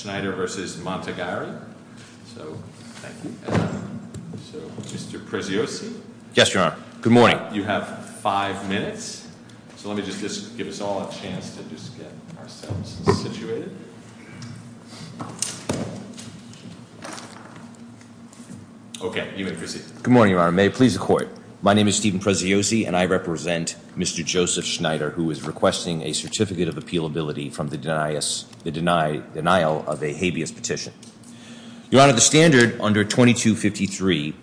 Schneider v. Montegari. So, thank you. So, Mr. Preziosi. Yes, Your Honor. Good morning. You have five minutes, so let me just give us all a chance to just get ourselves situated. Okay, you may proceed. Good morning, Your Honor. May it please the Court. My name is Steven Preziosi, and I represent Mr. Joseph Schneider, who is requesting a certificate of appealability from the denial of a habeas petition. Your Honor, the standard under 2253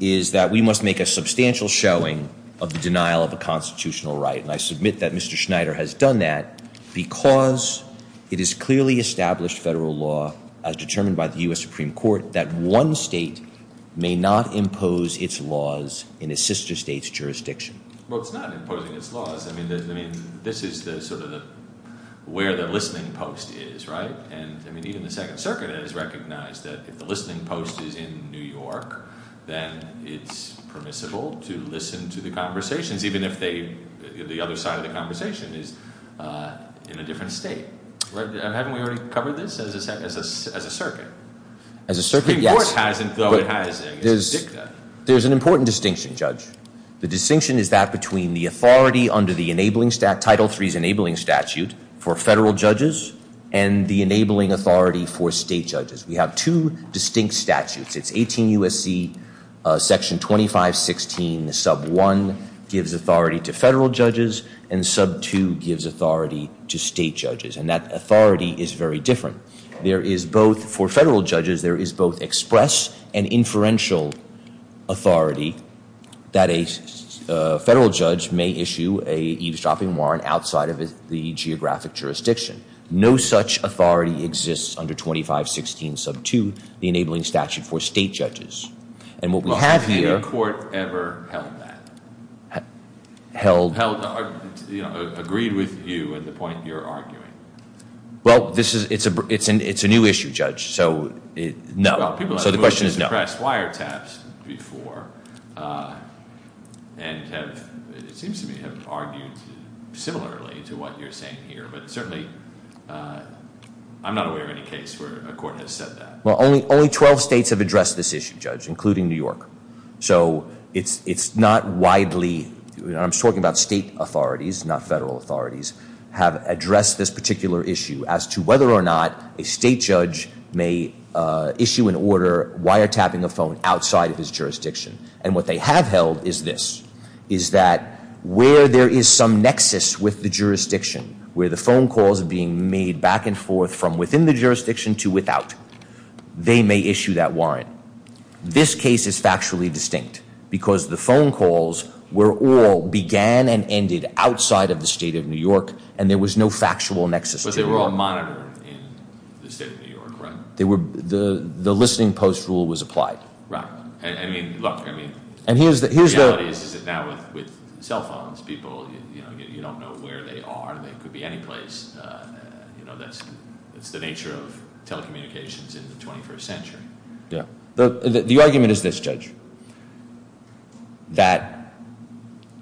is that we must make a substantial showing of the denial of a constitutional right, and I submit that Mr. Schneider has done that because it is clearly established federal law, as determined by the U.S. Supreme Court, that one state may not impose its laws in a sister state's jurisdiction. Well, it's not imposing its laws. I mean, this is the sort of the where the listening post is, right? And I mean, even the Second Circuit has recognized that if the listening post is in New York, then it's permissible to listen to the conversations, even if the other side of the conversation is in a different state. Haven't we already covered this as a circuit? As a circuit, yes. The Supreme Court hasn't, though it has in its dicta. There's an important distinction, Judge. The distinction is that between the authority under the Title III's enabling statute for federal judges and the enabling authority for state judges. We have two distinct statutes. It's 18 U.S.C. Section 2516, Sub 1 gives authority to federal judges, and Sub 2 gives authority to state judges, and that authority is very different. There is both, for federal judges, there is both express and inferential authority that a federal judge may issue a eavesdropping warrant outside of the geographic jurisdiction. No such authority exists under 2516, Sub 2, the enabling statute for state judges. And what we have here- Well, has any court ever held that? Held- Held, you know, agreed with you at the point you're arguing. Well, this is, it's a, it's a new issue, Judge, so it, no. Well, people have- So the question is no. Moved to express wiretaps before, and have, it seems to me, have argued similarly to what you're saying here, but certainly, I'm not aware of any case where a court has said that. Well, only 12 states have addressed this issue, Judge, including New York. So it's not widely, I'm talking about state authorities, not federal authorities, have addressed this particular issue as to whether or not a state judge may issue an order wiretapping a phone outside of his jurisdiction. And what they have held is this, is that where there is some nexus with the jurisdiction, where the phone calls are being made back and forth from within the jurisdiction to without, they may issue that warrant. This case is factually distinct because the phone calls were all began and ended outside of the state of New York, and there was no factual nexus. But they were all monitored in the state of New York, right? They were, the listening post rule was applied. Right. I mean, look, I mean- And here's the- The reality is that now with cell phones, people, you know, you don't know where they are. They could be anyplace. You know, that's, it's the nature of telecommunications in the 21st century. Yeah. The argument is this, Judge, that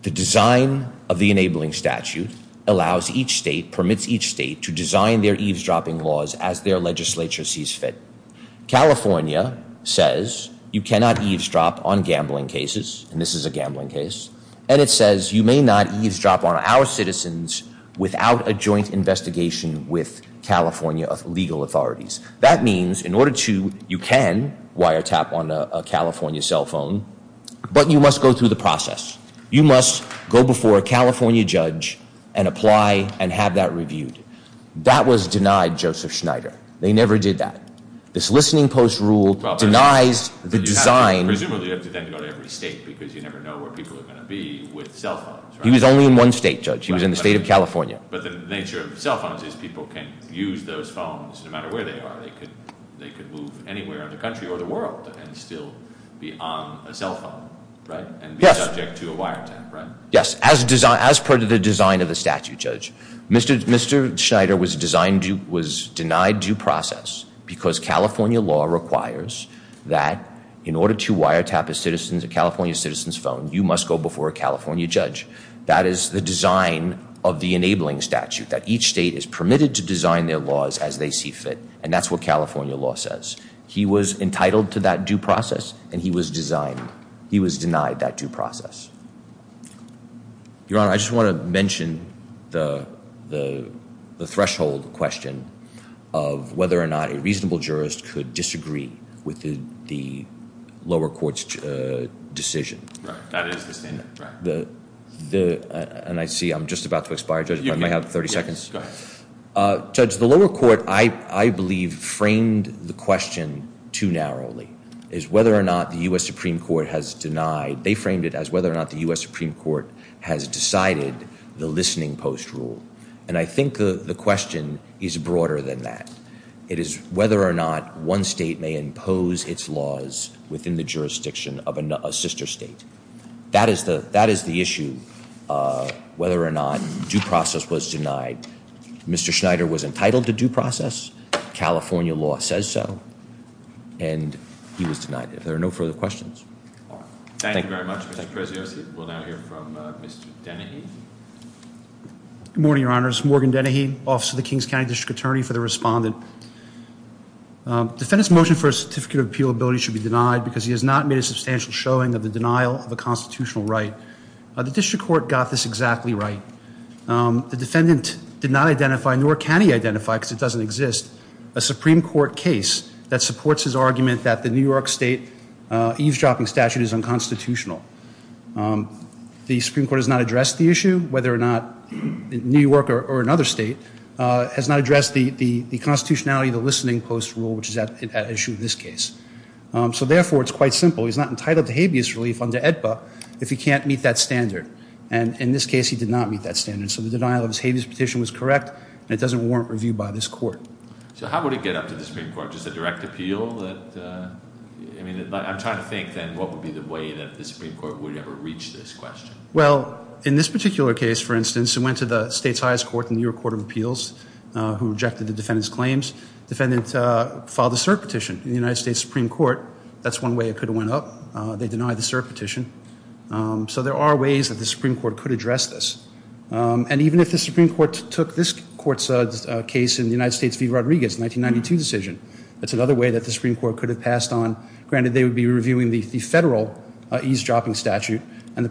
the design of the enabling statute allows each state, permits each state to design their eavesdropping laws as their legislature sees fit. California says you cannot eavesdrop on gambling cases, and this is a gambling case, and it says you may not eavesdrop on our citizens without a joint investigation with California legal authorities. That means in order to, you can wiretap on a California cell phone, but you must go through the process. You must go before a California judge and apply and have that reviewed. That was denied Joseph Schneider. They never did that. This listening post rule denies the design- Presumably you have to then go to every state because you never know where people are going to be with cell phones, right? He was only in one state, Judge. He was in the state of California. But the nature of cell phones is people can use those phones no matter where they are. They could, they could move anywhere in the country or the world and still be on a cell phone, right? Yes. And be subject to a wiretap, right? Yes, as per the design of the statute, Judge. Mr. Schneider was designed to, was denied due process because California law requires that in order to wiretap a citizen's, a California citizen's phone, you must go before a California judge. That is the design of the enabling statute that each state is permitted to design their laws as they see fit. And that's what California law says. He was entitled to that due process and he was designed, he was denied that due process. Your Honor, I just want to mention the, the, the threshold question of whether or not a lower court's decision. Right, that is the statement, right. The, the, and I see I'm just about to expire, Judge, but I might have 30 seconds. Go ahead. Uh, Judge, the lower court, I, I believe framed the question too narrowly, is whether or not the U.S. Supreme Court has denied, they framed it as whether or not the U.S. Supreme Court has decided the listening post rule. And I think the, the question is broader than that. It is whether or not one state may impose its laws within the jurisdiction of a sister state. That is the, that is the issue of whether or not due process was denied. Mr. Schneider was entitled to due process. California law says so. And he was denied it. If there are no further questions. Thank you very much, Mr. Preziosi. We'll now hear from Mr. Dennehy. Good morning, Your Honors. Morgan Dennehy, officer of the Kings County District Attorney, for the respondent. Defendant's motion for a certificate of appealability should be denied because he has not made a substantial showing of the denial of a constitutional right. The District Court got this exactly right. The defendant did not identify, nor can he identify, because it doesn't exist, a Supreme Court case that supports his argument that the New York State eavesdropping statute is unconstitutional. The Supreme Court has not addressed the issue, whether or not New York or another state, has not addressed the constitutionality of the listening post rule, which is at issue in this case. So therefore, it's quite simple. He's not entitled to habeas relief under AEDPA if he can't meet that standard. And in this case, he did not meet that standard. So the denial of his habeas petition was correct, and it doesn't warrant review by this court. So how would it get up to the Supreme Court? Just a direct appeal that, I mean, I'm trying to think then what would be the way that the Supreme Court would ever reach this question? Well, in this particular case, for instance, it went to the state's highest court, the New York Court of Appeals, who rejected the defendant's claims. The defendant filed a cert petition in the United States Supreme Court. That's one way it could have went up. They denied the cert petition. So there are ways that the Supreme Court could address this. And even if the Supreme Court took this court's case in the United States v. Rodriguez, 1992 decision, that's another way that the Supreme Court could have passed on. Granted, they would be reviewing the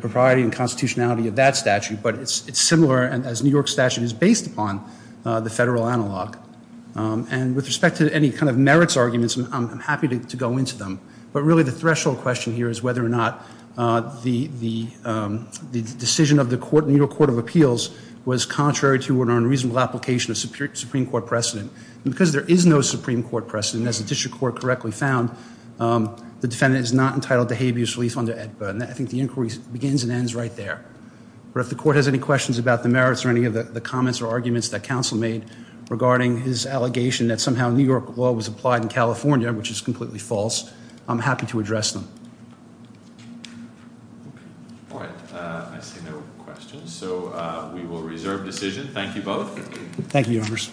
propriety and constitutionality of that statute, but it's similar as New York's statute is based upon the federal analog. And with respect to any kind of merits arguments, I'm happy to go into them. But really the threshold question here is whether or not the decision of the New York Court of Appeals was contrary to an unreasonable application of Supreme Court precedent. And because there is no Supreme Court precedent, as the district court correctly found, the defendant is not entitled to habeas relief under AEDPA. And I think the inquiry begins and ends right there. But if the court has any questions about the merits or any of the comments or arguments that counsel made regarding his allegation that somehow New York law was applied in California, which is completely false, I'm happy to address them. All right. I see no questions. So we will reserve